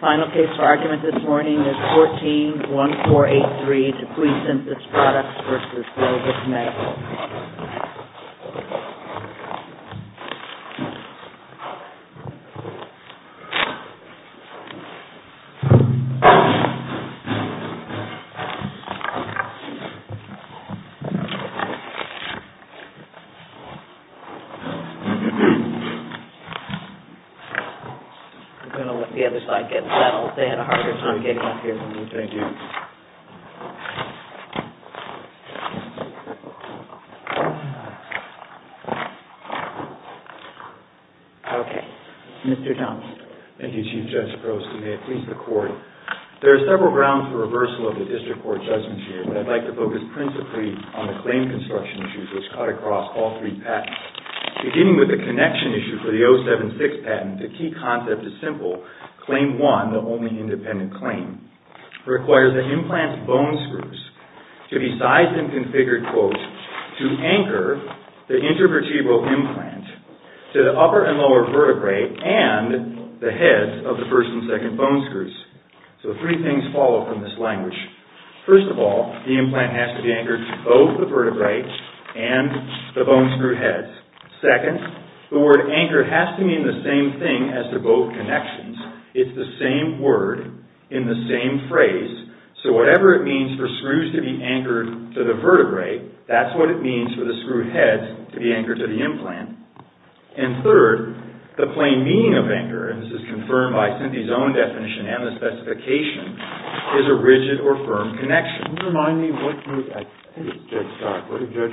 Final case for argument this morning is 14-1483, DePuy Synthes Products v. Globus Medical, Inc. There are several grounds for reversal of the district court judgment here, but I'd like to focus principally on the claim construction issues, which cut across all three patents. Beginning with the connection issue for the 076 patent, the key concept is simple. Claim 1, the only independent claim, requires the implant's bone screws to be sized and configured, quote, to anchor the intervertebral implant to the upper and lower vertebrae and the heads of the first and second bone screws. So three things follow from this language. First of all, the implant has to be anchored to both the vertebrae and the bone screw heads. Second, the word anchor has to mean the same thing as to both connections. It's the same word in the same phrase, so whatever it means for screws to be anchored to the vertebrae, that's what it means for the screw heads to be anchored to the implant. And third, the plain meaning of anchor, and this is confirmed by Synthes' own definition and the specification, is a rigid or firm connection. Can you remind me what did Judge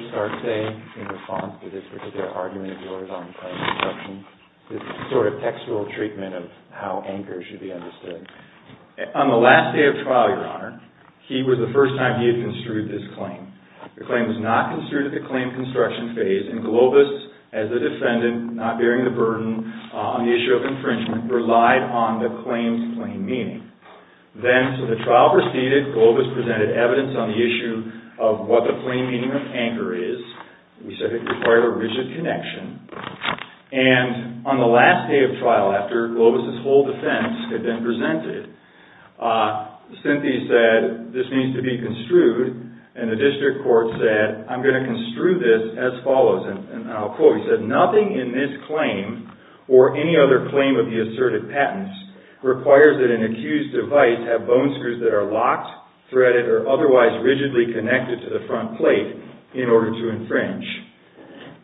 Stark say in response to this particular argument of yours on claim construction, this sort of textual treatment of how anchors should be understood? On the last day of trial, Your Honor, he was the first time he had construed this claim. The claim was not construed at the claim construction phase, and Globus, as the defendant, not bearing the burden on the issue of infringement, relied on the claim's plain meaning. Then, so the trial proceeded, Globus presented evidence on the issue of what the plain meaning of anchor is. We said it required a rigid connection. And on the last day of trial, after Globus' whole defense had been presented, Synthes said, this needs to be construed, and the district court said, I'm going to construe this as follows. And I'll quote. He said, nothing in this claim, or any other claim of the asserted patents, requires that an accused device have bone screws that are locked, threaded, or otherwise rigidly connected to the front plate in order to infringe.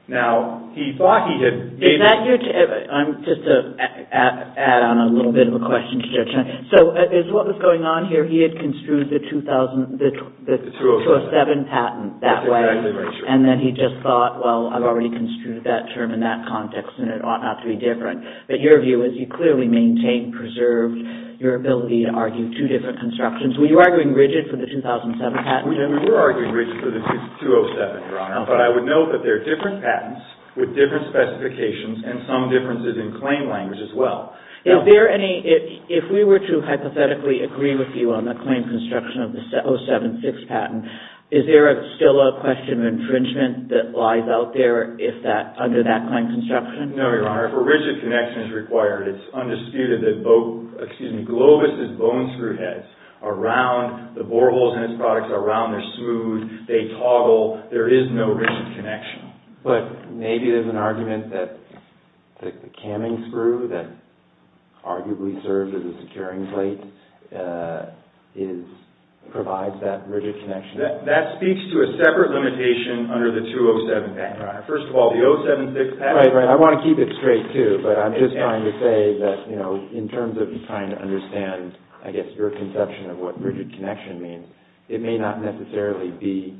Now, he thought he had... Is that your... I'm just to add on a little bit of a question to Judge Stark. So, is what was going on here, he had construed the 2000... The 2007 patent that way. That's exactly right, Your Honor. And then he just thought, well, I've already construed that term in that context, and it ought not to be different. But your view is you clearly maintained, preserved your ability to argue two different constructions. Were you arguing rigid for the 2007 patent? We were arguing rigid for the 2007, Your Honor. But I would note that there are different patents with different specifications, and some differences in claim language as well. Is there any... If we were to hypothetically agree with you on the claim construction of the 076 patent, is there still a question of infringement that lies out there under that claim construction? No, Your Honor. If a rigid connection is required, it's undisputed that Globus's bone screw heads are round. The boreholes in his products are round. They're smooth. They toggle. There is no rigid connection. But maybe there's an argument that the camming screw that arguably serves as a securing plate provides that rigid connection. That speaks to a separate limitation under the 2007 patent. First of all, the 076 patent... Right, right. I want to keep it straight, too. But I'm just trying to say that in terms of trying to understand, I guess, your conception of what rigid connection means, it may not necessarily be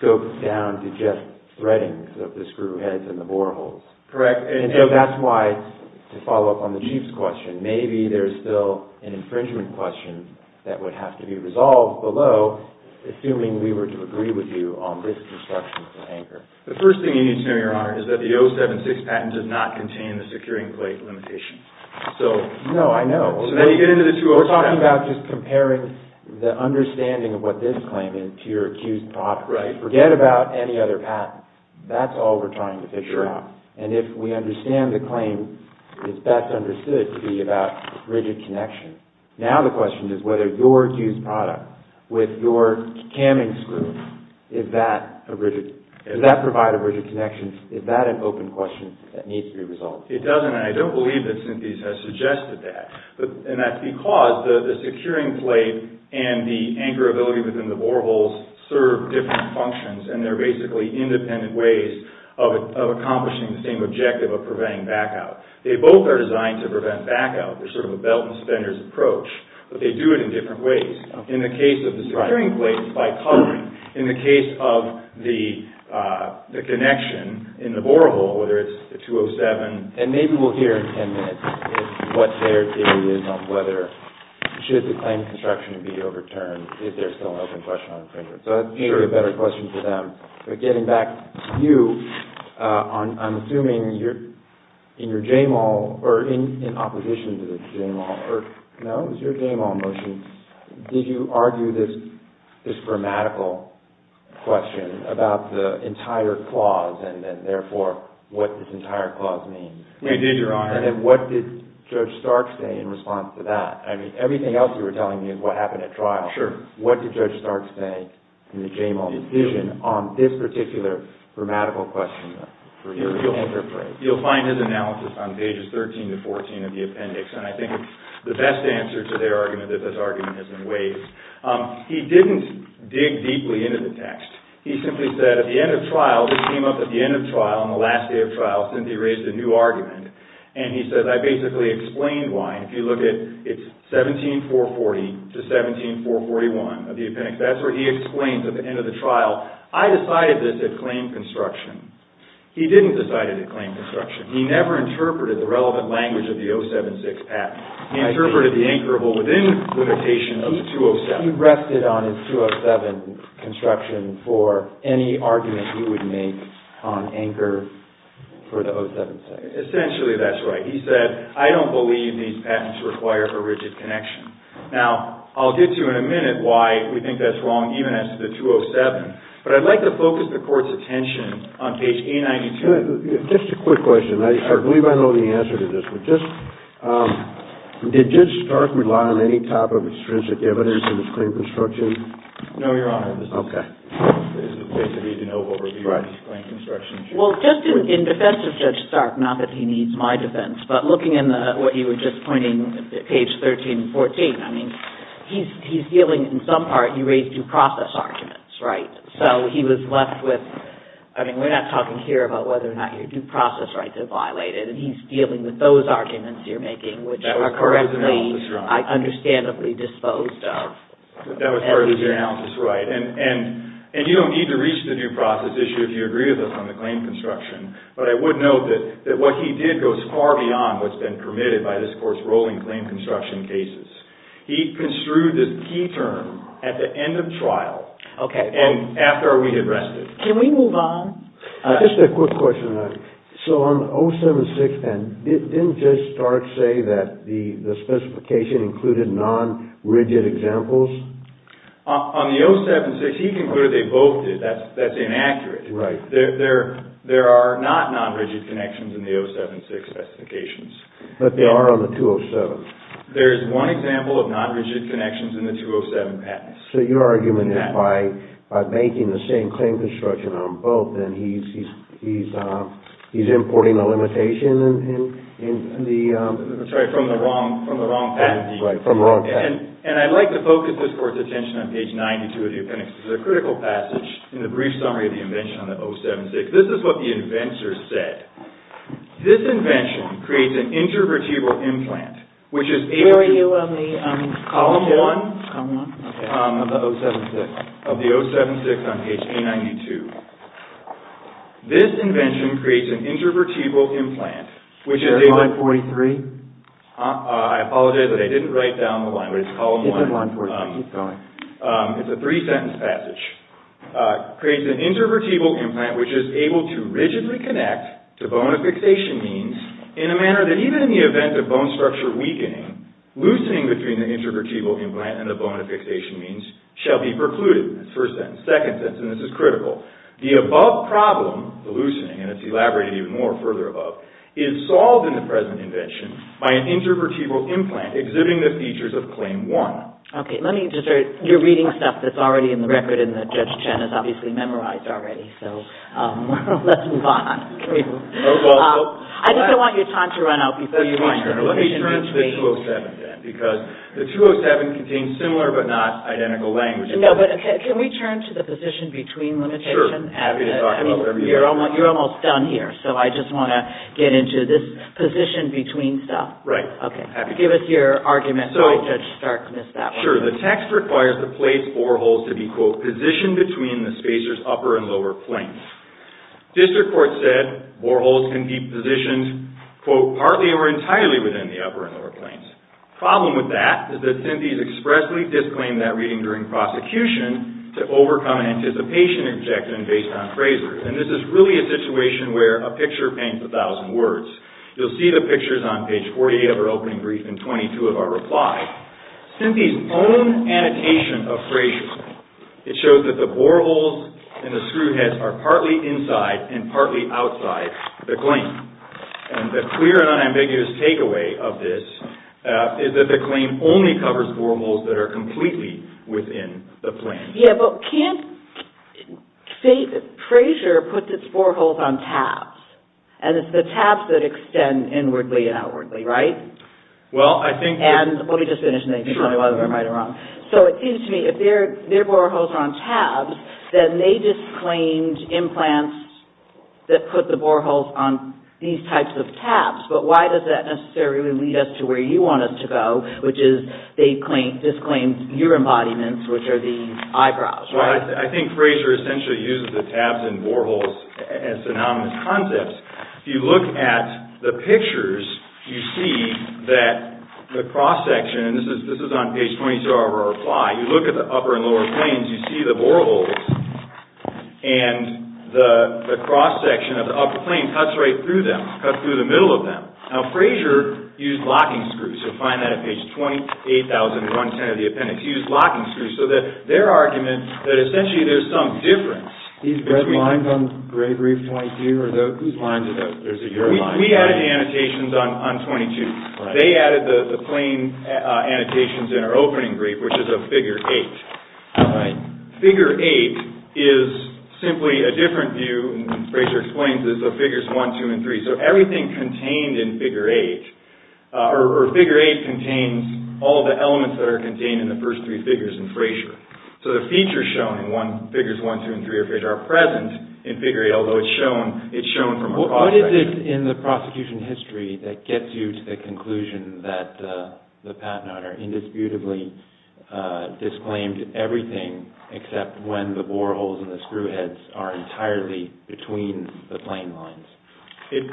scoped down to just threadings of the screw heads and the boreholes. Correct. And so that's why, to follow up on the Chief's question, maybe there's still an infringement question that would have to be resolved below, assuming we were to agree with you on this construction for anchor. The first thing you need to know, Your Honor, is that the 076 patent does not contain the securing plate limitation. So... No, I know. So now you get into the 207... We're talking about just comparing the understanding of what this claim is to your accused product. Right. Forget about any other patent. That's all we're trying to figure out. And if we understand the claim, it's best understood to be about rigid connection. Now the question is whether your accused product, with your camming screw, is that a rigid... Does that provide a rigid connection? Is that an open question that needs to be resolved? It doesn't, and I don't believe that Cynthia has suggested that. And that's because the securing plate and the anchorability within the boreholes serve different functions, and they're basically independent ways of accomplishing the same objective of preventing back out. They both are designed to prevent back out. They're sort of a belt and spender's approach, but they do it in different ways. In the case of the securing plate, it's bicoloring. In the case of the connection in the borehole, whether it's the 207... And maybe we'll hear in 10 minutes what their theory is on whether, should the claim of construction be overturned if there's still an open question on infringement. So that may be a better question for them. But getting back to you, I'm assuming in your JAMAL, or in opposition to the JAMAL, no, it was your JAMAL motion, did you argue this grammatical question about the entire clause, and then therefore what this entire clause means? We did, Your Honor. And then what did Judge Stark say in response to that? I mean, everything else you were telling me is what happened at trial. Sure. What did Judge Stark say in the JAMAL decision on this particular grammatical question? You'll find his analysis on pages 13 to 14 of the appendix, and I think the best answer to their argument is that this argument is in waves. He didn't dig deeply into the text. He simply said at the end of trial, this came up at the end of trial, on the last day of trial, since he raised a new argument, and he said, I basically explained why. If you look at 17440 to 17441 of the appendix, that's where he explains at the end of the trial, I decided this at claim construction. He didn't decide it at claim construction. He never interpreted the relevant language of the 076 act. He interpreted the anchorable within limitation of the 207. He rested on his 207 construction for any argument he would make on anchor for the 076. Essentially, that's right. He said, I don't believe these patents require a rigid connection. Now, I'll get to in a minute why we think that's wrong, even as to the 207, but I'd like to focus the Court's attention on page 892. Just a quick question. I believe I know the answer to this, but just, did Judge Stark rely on any type of extrinsic evidence in his claim construction? No, Your Honor. Okay. He didn't know what was in his claim construction. Well, just in defense of Judge Stark, not that he needs my defense, but looking in what you were just pointing, page 13 and 14, I mean, he's dealing, in some part, he raised due process arguments, right? So, he was left with, I mean, we're not talking here about whether or not your due process rights are violated, and he's dealing with those arguments you're making, which are correctly, understandably disposed of. That was part of his analysis, right. And you don't need to reach the due process issue if you agree with us on the claim construction, but I would note that what he did goes far beyond what's been permitted by this Court's ruling claim construction cases. He construed this key term at the end of trial and after we had rested. Can we move on? Just a quick question, Your Honor. So, on the 076, didn't Judge Stark say that the specification included non-rigid examples? On the 076, he concluded they both did. That's inaccurate. Right. There are not non-rigid connections in the 076 specifications. But there are on the 207. There's one example of non-rigid connections in the 207 patents. So, your argument is by making the same claim construction on both, then he's importing a limitation in the... That's right, from the wrong patent. Right, from the wrong patent. And I'd like to focus this Court's attention on page 92 of the appendix. It's a critical passage in the brief summary of the invention on the 076. This is what the inventor said. This invention creates an intervertebral implant, which is... Where are you on the... Column one. Column one? Of the 076. Of the 076 on page 892. This invention creates an intervertebral implant, which is... Is that line 43? I apologize, but I didn't write down the line. It's column one. It's line 43. Sorry. It's a three-sentence passage. Creates an intervertebral implant, which is able to rigidly connect to bone affixation means in a manner that even in the event of bone structure weakening, loosening between the intervertebral implant and the bone affixation means shall be precluded. That's first sentence. Second sentence, and this is critical. The above problem, the loosening, and it's elaborated even more further above, is solved in the present invention by an intervertebral implant exhibiting the features of claim one. Okay. Let me just... You're reading stuff that's already in the record and that Judge Chen has obviously memorized already, so let's move on. I think I want your time to run out before you... Let me turn to the 207 then, because the 207 contains similar but not identical language. No, but can we turn to the position between limitations? Sure. Happy to talk about whatever you want. You're almost done here, so I just want to get into this position between stuff. Right. Okay. Give us your argument. Sorry, Judge Stark missed that one. Sure. The text requires the plates boreholes to be, quote, positioned between the spacer's upper and lower planes. District court said boreholes can be positioned, quote, partly or entirely within the upper and lower planes. The problem with that is that synthese expressly disclaimed that reading during prosecution to overcome anticipation objection based on phrasers. This is really a situation where a picture paints a thousand words. You'll see the pictures on page 48 of our opening brief and 22 of our reply. Synthese's own annotation of phrasers, it shows that the boreholes and the screw heads are partly inside and partly outside the claim. The clear and unambiguous takeaway of this is that the claim only covers boreholes that are completely within the plane. Yeah, but can't phraser put its boreholes on tabs? And it's the tabs that extend inwardly and outwardly, right? Well, I think... And let me just finish and then you can tell me whether I'm right or wrong. So it seems to me if their boreholes are on tabs, then they disclaimed implants that put the boreholes on these types of tabs. But why does that necessarily lead us to where you want us to go, which is they disclaimed your embodiments, which are the eyebrows, right? I think phraser essentially uses the tabs and boreholes as synonymous concepts. If you look at the pictures, you see that the cross section, and this is on page 22 of our reply, you look at the upper and lower planes, you see the boreholes and the cross section of the upper plane cuts right through them, cuts through the middle of them. Now, phraser used locking screws. You'll find that on page 28,000, front and center of the appendix. He used locking screws so that their argument, that essentially there's some difference. These red lines on the gray brief point here, whose lines are those? We added the annotations on 22. They added the plane annotations in our opening brief, which is a figure eight. All right. Figure eight is simply a different view, and phraser explains that the figures one, two, and three, so everything contained in figure eight, or figure eight contains all the elements that are contained in the first three figures in phraser. The features shown in figures one, two, and three are present in figure eight, although it's shown from a cross section. What is it in the prosecution history that gets you to the conclusion that the patent owner indisputably disclaimed everything except when the boreholes and the screw heads are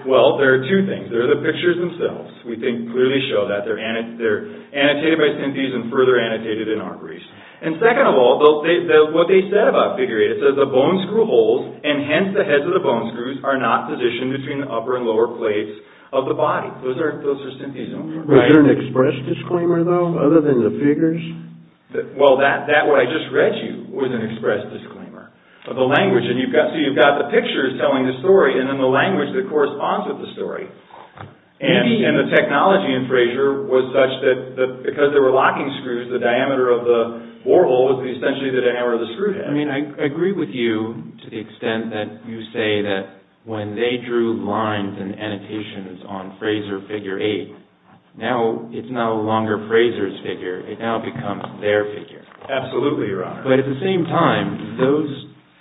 Well, there are two things. There are the pictures themselves. We can clearly show that. They're annotated by synthese and further annotated in our briefs. And second of all, what they said about figure eight, it says the bone screw holes, and hence the heads of the bone screws, are not positioned between the upper and lower plates of the body. Those are synthese. Right? Was there an express disclaimer, though, other than the figures? Well, that what I just read you was an express disclaimer of the language. So you've got the pictures telling the story and then the language that corresponds with the story. And the technology in phraser was such that because there were locking screws, the diameter of the borehole was essentially the diameter of the screw head. I mean, I agree with you to the extent that you say that when they drew lines and annotations on phraser figure eight, now it's no longer phraser's figure. It now becomes their figure. Absolutely, your honor. But at the same time, those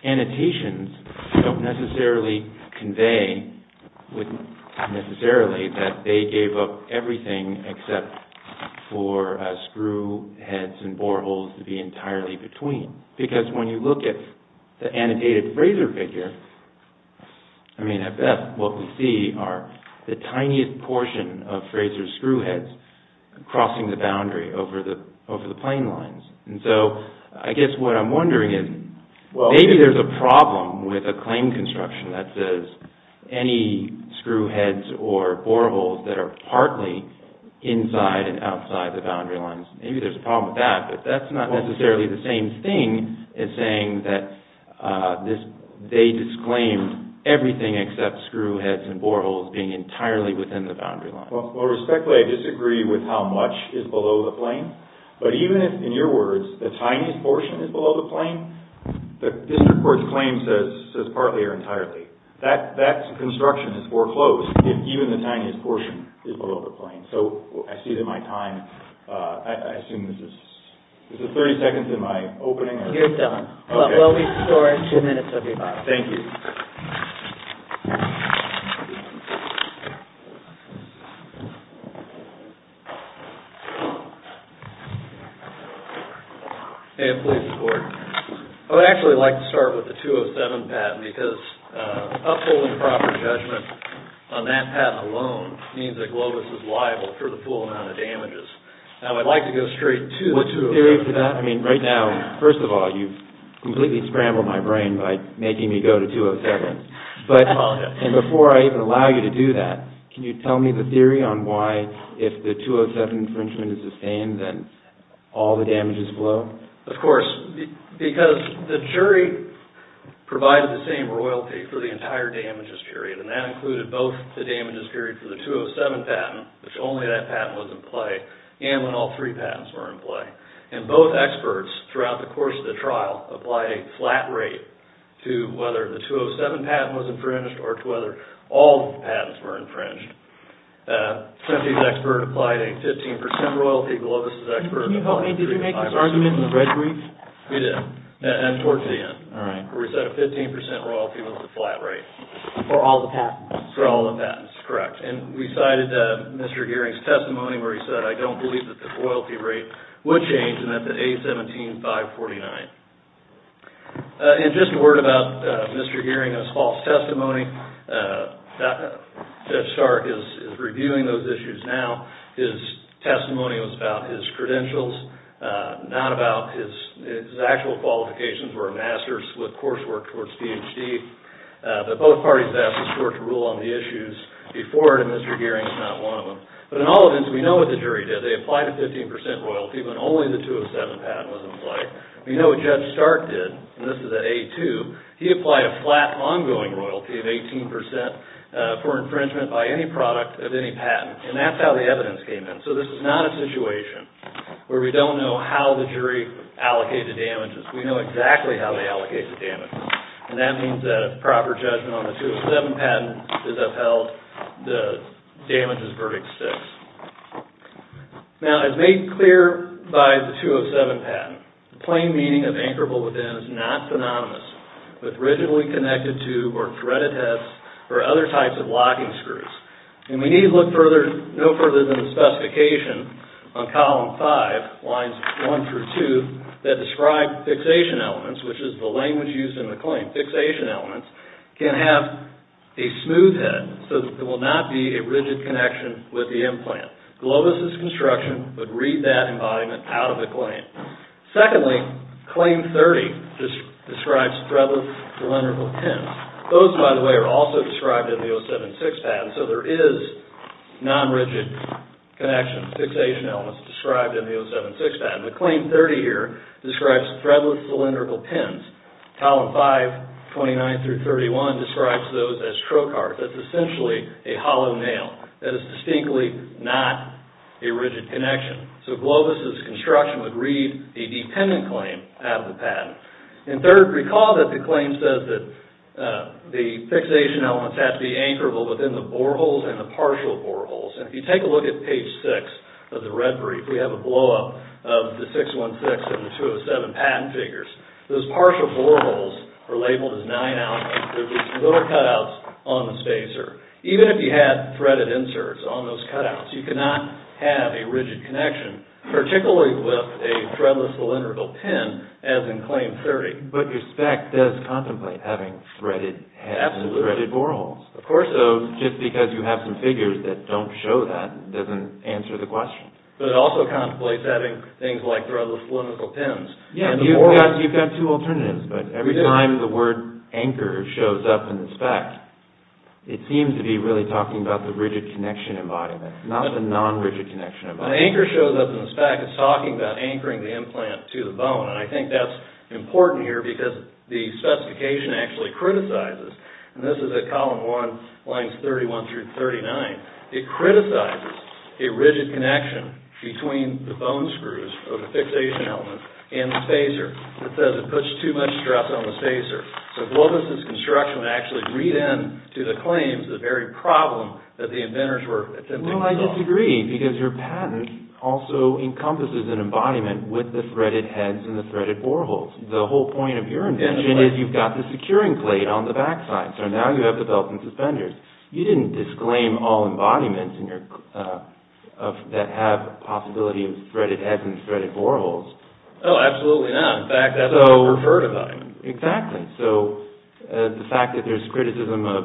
annotations don't necessarily convey necessarily that they gave up everything except for screw heads and boreholes to be entirely between. Because when you look at the annotated phraser figure, I mean, at best what we see are the tiniest portion of phraser's screw heads crossing the boundary over the plane lines. And so, I guess what I'm wondering is, maybe there's a problem with a claim construction that says any screw heads or boreholes that are partly inside and outside the boundary lines, maybe there's a problem with that, but that's not necessarily the same thing as saying that they disclaimed everything except screw heads and boreholes being entirely within the boundary lines. Well, respectfully, I disagree with how much is below the plane. But even if, in your words, the tiniest portion is below the plane, the district court's claim says partly or entirely. That construction is foreclosed if even the tiniest portion is below the plane. So, I see that my time, I assume this is, is it 30 seconds in my opening? You're done. Well, we've scored two minutes of your time. Thank you. May I please report? I would actually like to start with the 207 patent because upholding proper judgment on that patent alone means that Globus is liable for the full amount of damages. Now, I'd like to go straight to the 207. I mean, right now, first of all, you've completely scrambled my brain by making me go to 207. I apologize. And before I even allow you to do that, can you tell me the theory on why, if the 207 infringement is sustained, then all the damages blow? Of course. Because the jury provided the same royalty for the entire damages period, and that included both the damages period for the 207 patent, which only that patent was in play, and when all three patents were in play. And both experts, throughout the course of the trial, applied a flat rate to whether the 207 patent was infringed or to whether all the patents were infringed. Timothy's expert applied a 15% royalty. Globus's expert applied a 3.5%. Can you help me? Did you make this argument in the red brief? We did. And it worked to the end. All right. Where we said a 15% royalty was the flat rate. For all the patents. For all the patents, correct. And we cited Mr. Gearing's testimony where he said, I don't believe that the royalty rate would change and that the A17, 549. And just a word about Mr. Gearing's false testimony. Judge Stark is reviewing those issues now. His testimony was about his credentials, not about his actual qualifications or a master's with coursework towards PhD. But both parties asked the court to rule on the issues before it, and Mr. Gearing is not one of them. But in all events, we know what the jury did. They applied a 15% royalty when only the 207 patent was in play. We know what Judge Stark did, and this is at A2. He applied a flat ongoing royalty of 18% for infringement by any product of any patent. And that's how the evidence came in. So this is not a situation where we don't know how the jury allocated damages. We know exactly how they allocated the damages. And that means that a proper judgment on the 207 patent is upheld. The damages verdict sticks. Now, as made clear by the 207 patent, the plain meaning of anchorable within is not synonymous with rigidly connected to or threaded heads or other types of locking screws. And we need to look no further than the specification on column 5, lines 1 through 2, that describe fixation elements, which is the language used in the claim. Fixation elements can have a smooth head so that there will not be a rigid connection with the implant. Globus's construction would read that embodiment out of the claim. Secondly, Claim 30 describes threadless cylindrical pins. Those, by the way, are also described in the 076 patent. So there is non-rigid connection, fixation elements described in the 076 patent. The Claim 30 here describes threadless cylindrical pins. Column 5, 29 through 31, describes those as trocars. That's essentially a hollow nail. That is distinctly not a rigid connection. So Globus's construction would read a dependent claim out of the patent. And third, recall that the claim says that the fixation elements have to be anchorable within the boreholes and the partial boreholes. And if you take a look at page 6 of the red brief, we have a blow-up of the 616 and the 207 patent figures. Those partial boreholes are labeled as 9-out. There are just little cutouts on the spacer. Even if you had threaded inserts on those cutouts, you could not have a rigid connection, particularly with a threadless cylindrical pin as in Claim 30. But your spec does contemplate having threaded heads and threaded boreholes. Of course it does. So just because you have some figures that don't show that doesn't answer the question. But it also contemplates having things like threadless cylindrical pins. Yeah, you've got two alternatives. But every time the word anchor shows up in the spec, it seems to be really talking about the rigid connection embodiment, not the non-rigid connection embodiment. When anchor shows up in the spec, it's talking about anchoring the implant to the bone. And I think that's important here because the specification actually criticizes, and this is at column 1, lines 31 through 39, it criticizes a rigid connection between the bone screws or the fixation element and the spacer. It says it puts too much stress on the spacer. So Globus' construction would actually read into the claims the very problem that the inventors were attempting to solve. Well, I disagree because your patent also encompasses an embodiment with the threaded heads and the threaded boreholes. The whole point of your invention is you've got the securing plate on the backside. So now you have the belt and suspenders. You didn't disclaim all embodiments that have a possibility of threaded heads and threaded boreholes. Oh, absolutely not. In fact, that's how I would refer to them. Exactly. So the fact that there's criticism of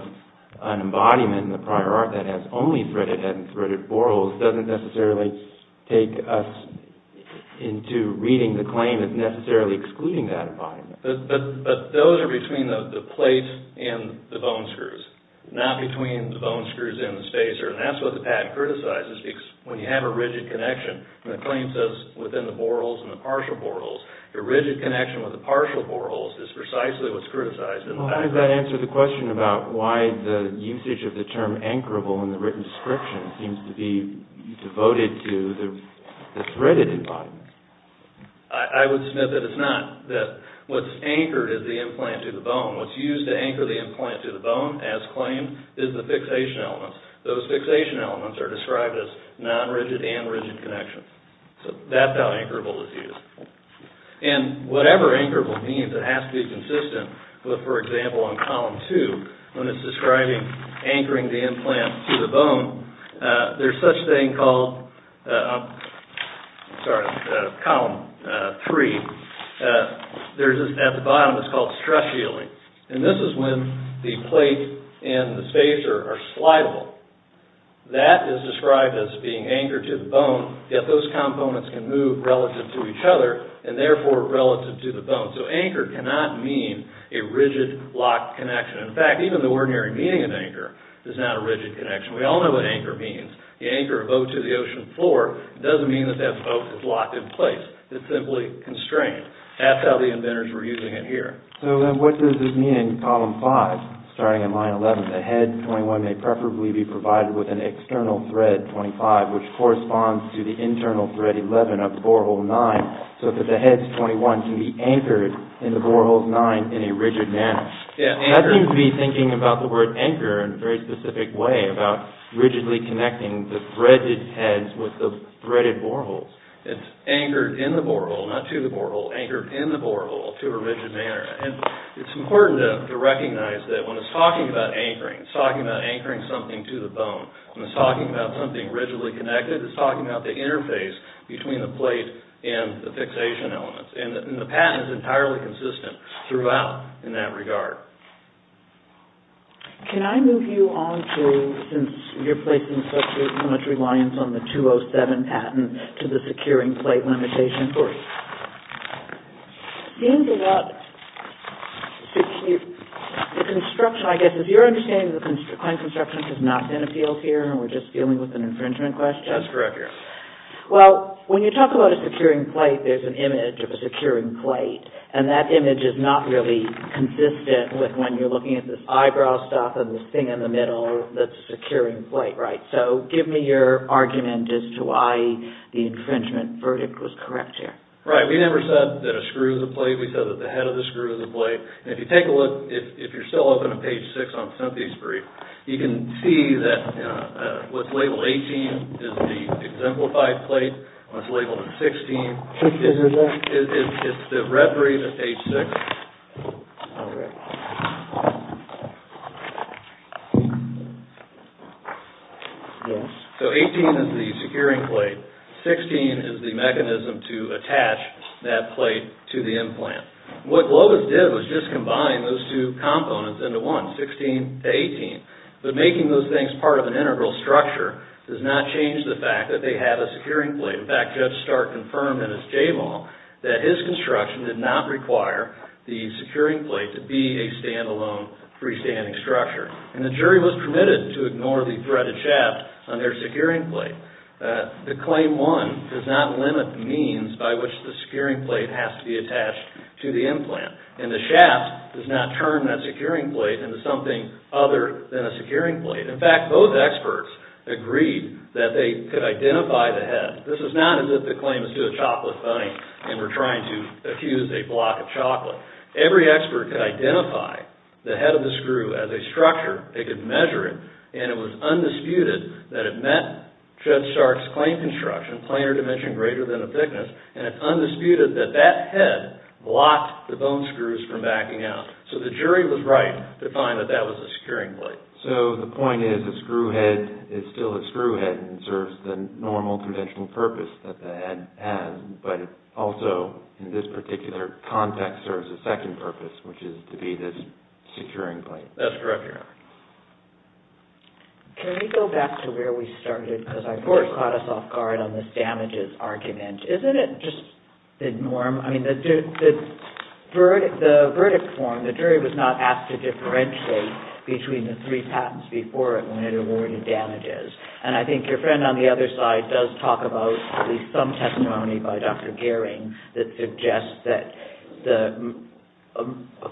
an embodiment in the prior art that has only threaded heads and threaded boreholes doesn't necessarily take us into reading the claim as necessarily excluding that embodiment. But those are between the plate and the bone screws. Not between the bone screws and the spacer. And that's what the patent criticizes because when you have a rigid connection and the claim says within the boreholes and the partial boreholes, your rigid connection with the partial boreholes is precisely what's criticized. Well, how does that answer the question about why the usage of the term anchorable in the written description seems to be devoted to the threaded embodiment? I would submit that it's not. That what's anchored is the implant to the bone. What's used to anchor the implant to the bone, as claimed, is the fixation elements. Those fixation elements are described as non-rigid and rigid connections. So that's how anchorable is used. And whatever anchorable means, it has to be consistent with, for example, on column two, when it's describing anchoring the implant to the bone, there's such a thing called, sorry, column three, at the bottom it's called stress healing. And this is when the plate and the spacer are slidable. That is described as being anchored to the bone, yet those components can move relative to each other and therefore relative to the bone. So anchor cannot mean a rigid, locked connection. In fact, even the ordinary meaning of anchor is not a rigid connection. We all know what anchor means. You anchor a boat to the ocean floor, it doesn't mean that that boat is locked in place. It's simply constrained. That's how the inventors were using it here. So what does this mean in column five? Starting in line 11, the head 21 may preferably be provided with an external thread 25, which corresponds to the internal thread 11 of borehole 9, so that the heads 21 can be anchored in the boreholes 9 in a rigid manner. I seem to be thinking about the word anchor in a very specific way, about rigidly connecting the threaded heads with the threaded boreholes. It's anchored in the borehole, not to the borehole, anchored in the borehole to a rigid manner. And it's important to recognize that when it's talking about anchoring, it's talking about anchoring something to the bone. When it's talking about something rigidly connected, it's talking about the interface between the plate and the fixation elements. And the patent is entirely consistent throughout in that regard. Can I move you on to, since you're placing so much reliance on the 207 patent, to the securing plate limitation for you? It seems that the construction, I guess, it's your understanding that the client construction has not been appealed here, and we're just dealing with an infringement question? That's correct, yes. Well, when you talk about a securing plate, there's an image of a securing plate, and that image is not really consistent with when you're looking at this eyebrow stuff and this thing in the middle that's a securing plate, right? So, give me your argument as to why the infringement verdict was correct here. Right, we never said that a screw is a plate, we said that the head of the screw is a plate. And if you take a look, if you're still up on page 6 on Cynthia's brief, you can see that what's labeled 18 is the exemplified plate, what's labeled 16 is the reverie to page 6. All right. So, 18 is the securing plate, 16 is the mechanism to attach that plate to the implant. What Globus did was just combine those two components into one, 16 to 18. But making those things part of an integral structure does not change the fact that they have a securing plate. In fact, Judge Stark confirmed in his JMAW that his construction did not require the securing plate to be a standalone freestanding structure. And the jury was permitted to ignore the threaded shaft on their securing plate. The Claim 1 does not limit the means by which the securing plate has to be attached to the implant. And the shaft does not turn that securing plate into something other than a securing plate. In fact, both experts agreed that they could identify the head. This is not as if the claim is to a chocolate bunny and we're trying to accuse a block of chocolate. Every expert could identify the head of the screw as a structure, they could measure it, and it was undisputed that it met Judge Stark's claim construction, planar dimension greater than a thickness, and it's undisputed that that head blocked the bone screws from backing out. So, the jury was right to find that that was a securing plate. So, the point is a screw head is still a screw head and serves the normal conventional purpose that the head has, but it also, in this particular context, serves a second purpose, which is to be this securing plate. That's correct, Your Honor. Can we go back to where we started? Because I thought it caught us off guard on this damages argument. Isn't it just the norm? I mean, the verdict form, the jury was not asked to differentiate between the three patents before it when it awarded damages. And I think your friend on the other side does talk about at least some testimony by Dr. Gehring that suggests that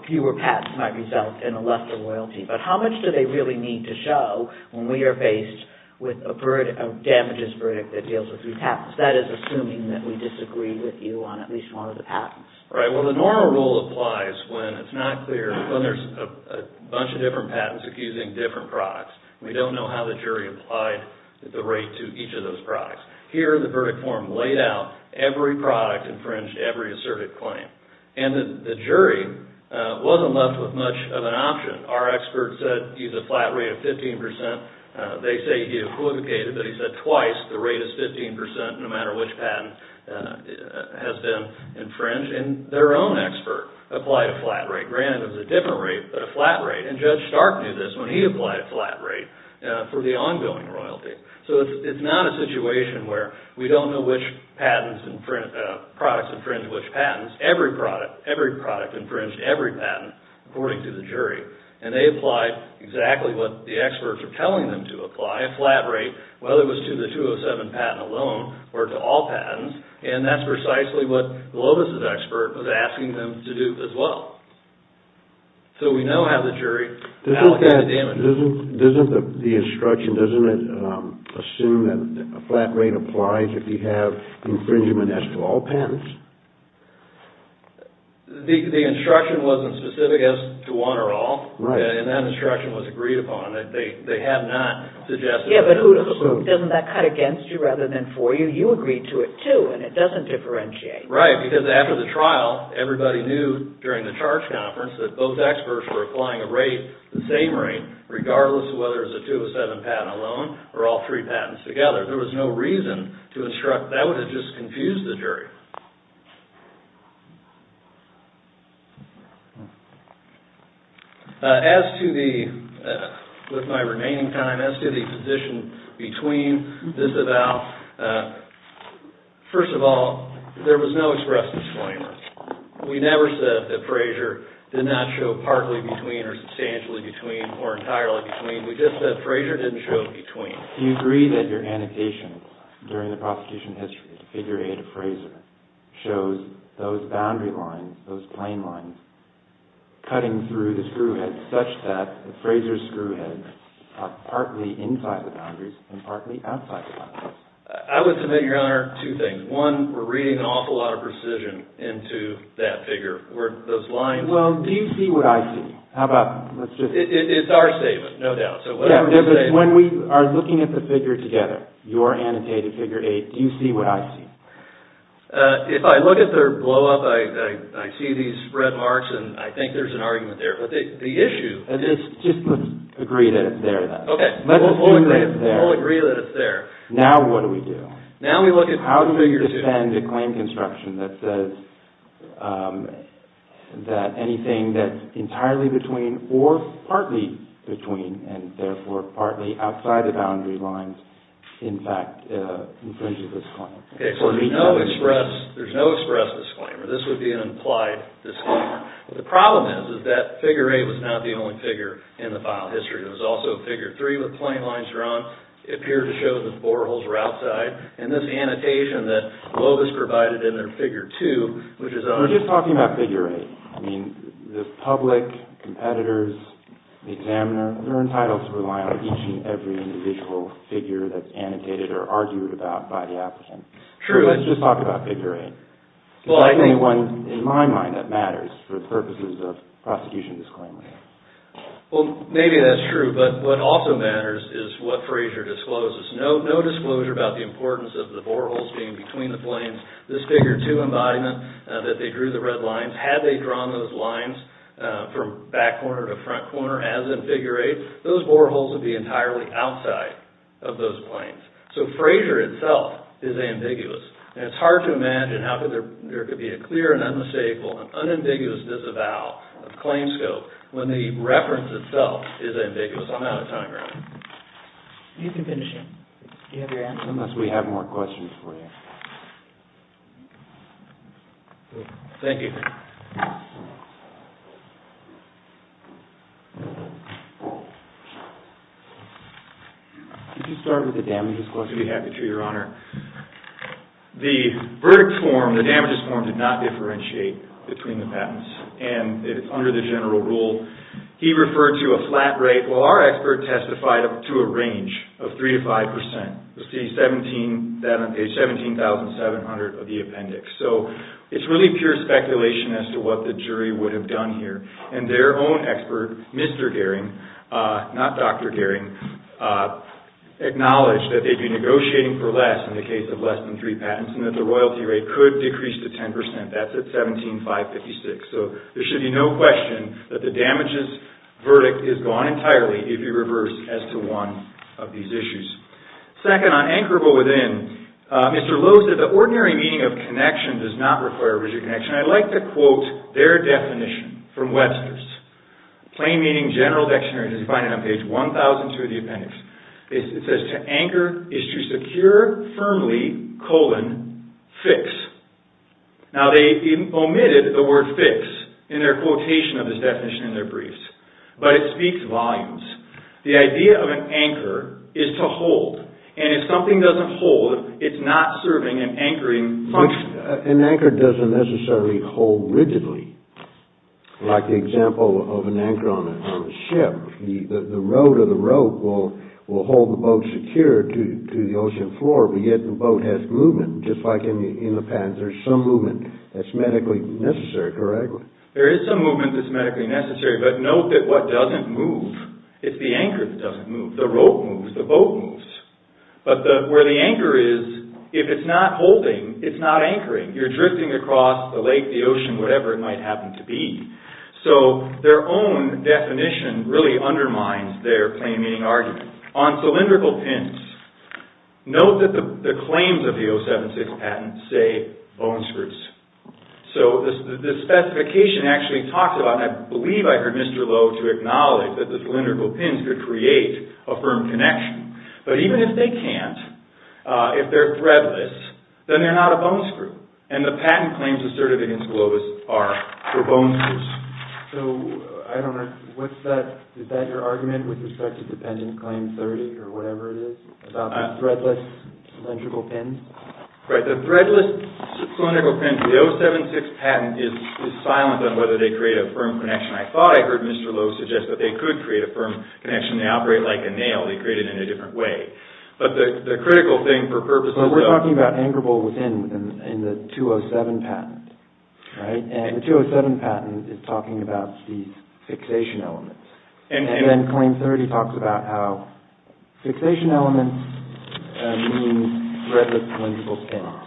fewer patents might result in a lesser loyalty. But how much do they really need to show when we are faced with a damages verdict that deals with three patents? That is assuming that we disagree with you on at least one of the patents. Right. Well, the normal rule applies when it's not clear, when there's a bunch of different patents accusing different products. We don't know how the jury applied the rate to each of those products. Here, the verdict form laid out every product infringed every asserted claim. And the jury wasn't left with much of an option. Our expert said he's a flat rate of 15%. They say he equivocated, but he said twice the rate is 15% no matter which patent has been infringed. And their own expert applied a flat rate. Granted, it was a different rate, but a flat rate. And Judge Stark knew this when he applied a flat rate for the ongoing royalty. So it's not a situation where we don't know which products infringed which patents. Every product infringed every patent according to the jury. And they applied exactly what the experts are telling them to apply, a flat rate whether it was to the 207 patent alone or to all patents. And that's precisely what Globus' expert was asking them to do as well. So we know how the jury allocated the damage. Doesn't the instruction, doesn't it assume that a flat rate applies if you have infringement as to all patents? The instruction wasn't specific as to one or all. And that instruction was agreed upon. They have not suggested it as a solution. Yeah, but doesn't that cut against you rather than for you? You agreed to it too, and it doesn't differentiate. Right, because after the trial, everybody knew during the charge conference that both experts were applying a rate, the same rate, regardless of whether it was a 207 patent alone or all three patents together. There was no reason to instruct. That would have just confused the jury. As to the, with my remaining time, as to the position between this and that, well, first of all, there was no express disclaimers. We never said that Frazer did not show partly between or substantially between or entirely between. We just said Frazer didn't show between. Do you agree that your annotation during the prosecution history, figure 8 of Frazer, shows those boundary lines, those plain lines, cutting through the screw head such that the Frazer screw head is partly inside the boundaries and partly outside the boundaries? I would submit, Your Honor, two things. One, we're reading an awful lot of precision into that figure, where those lines... Well, do you see what I see? How about, let's just... It's our statement, no doubt. Yeah, but when we are looking at the figure together, your annotated figure 8, do you see what I see? If I look at their blow-up, I see these red marks, and I think there's an argument there. The issue... Just agree that it's there, then. Okay. We'll agree that it's there. Now what do we do? Now we look at figure 2. How do we defend a claim construction that says that anything that's entirely between or partly between and therefore partly outside the boundary lines, in fact, infringes this claim? Okay, so there's no express disclaimer. This would be an implied disclaimer. The problem is that figure 8 was not the only figure in the file history. There was also figure 3 with plain lines drawn. It appeared to show that the boreholes were outside, and this annotation that Loeb has provided in their figure 2, which is... We're just talking about figure 8. I mean, the public, competitors, the examiner, they're entitled to rely on each and every individual figure that's annotated or argued about by the applicant. Let's just talk about figure 8. Is there anyone in my mind that matters for purposes of prosecution disclaimer? Well, maybe that's true, but what also matters is what Frazier discloses. No disclosure about the importance of the boreholes being between the planes. This figure 2 embodiment that they drew the red lines, had they drawn those lines from back corner to front corner as in figure 8, those boreholes would be entirely outside of those planes. So Frazier itself is ambiguous. And it's hard to imagine how there could be a clear and unmistakable and unambiguous disavow of claims scope when the reference itself is ambiguous on that time frame. You can finish it. Do you have your answer? Unless we have more questions for you. Thank you. Could you start with the damages? Of course, we'd be happy to, Your Honor. The verdict form, the damages form, did not differentiate between the patents. And it's under the general rule. He referred to a flat rate. Well, our expert testified up to a range of 3 to 5 percent. You'll see that on page 17,700 of the appendix. So, it's really pure speculation as to what the jury would have done here. And their own expert, Mr. Gehring, not Dr. Gehring, acknowledged that they'd be negotiating for less in the case of less than 3 patents and that the royalty rate could decrease to 10 percent. That's at 17,556. So, there should be no question that the damages verdict is gone entirely if you reverse as to one of these issues. Second, on anchorable within, Mr. Lowe said the ordinary meaning of connection does not require rigid connection. I'd like to quote their definition from Webster's. Plain meaning general dictionary You can find it on page 1,002 of the appendix. It says, to anchor is to secure firmly, colon, fix. Now, they omitted the word fix in their quotation of this definition in their briefs. But it speaks volumes. The idea of an anchor is to hold. And if something doesn't hold, it's not serving an anchoring function. An anchor doesn't necessarily hold rigidly. Like the example of an anchor on a ship. The rope will hold the boat secure to the ocean floor but yet the boat has movement. Just like in the pads, there's some movement that's medically necessary. There is some movement that's medically necessary but note that what doesn't move is the anchor that doesn't move. The rope moves, the boat moves. But where the anchor is, if it's not holding, it's not anchoring. You're drifting across the lake, the ocean, whatever it might happen to be. So, their own definition really undermines their plain meaning argument. On cylindrical pins, note that the claims of the 076 patent say bone screws. So, the specification actually talks about, and I believe I heard Mr. Lowe to acknowledge that the cylindrical pins could create a firm connection. But even if they can't, if they're threadless, then they're not a bone screw. And the patent claims asserted against Globus are for bone screws. So, I don't understand. Is that your argument with respect to Dependent Claim 30 or whatever it is about the threadless cylindrical pins? Right. The threadless cylindrical pins of the 076 patent is silent on whether they create a firm connection. I thought I heard Mr. Lowe suggest that they could create a firm connection. They operate like a nail. They create it in a different way. But the critical thing for purposes of We're talking about anchorable within the 207 patent. And the 207 patent is talking about these fixation elements. And then Claim 30 talks about how fixation elements mean threadless cylindrical pins.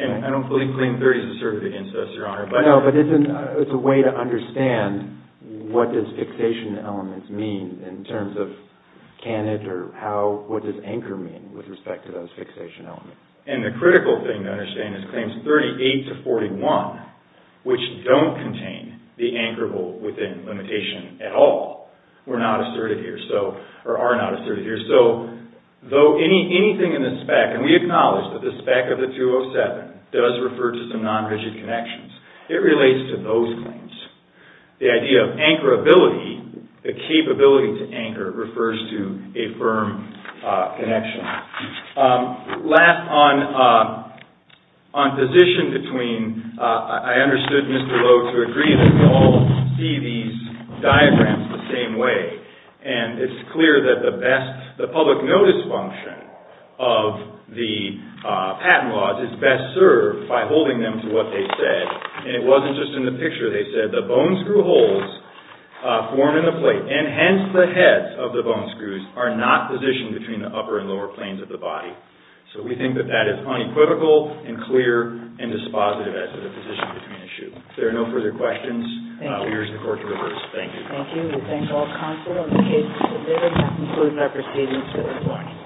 And I don't believe Claim 30 is asserted against us, Your Honor. No, but it's a way to understand what does fixation elements mean in terms of what does anchor mean with respect to those fixation elements. And the critical thing to understand is Claims 38 to 41 which don't contain the anchorable within limitation at all are not asserted here. So, though anything in the spec and we acknowledge that the spec of the 207 does refer to some non-rigid connections, it relates to those claims. The idea of anchorability, the capability to anchor refers to a firm connection. Last, on position between I understood Mr. Lowe to agree that we all see these diagrams the same way. And it's clear that the best, the public notice function of the patent laws is best served by holding them to what they said. And it wasn't just in the picture. They said the bone screw holes form in the plate. And hence the heads of the bone screws are not positioned between the upper and lower planes of the body. So we think that that is unequivocal and clear and dispositive as to the position between the shoes. If there are no further questions, we urge the Court to reverse. Thank you. Thank you. We thank all counsel on the cases submitted and conclude our proceedings this morning.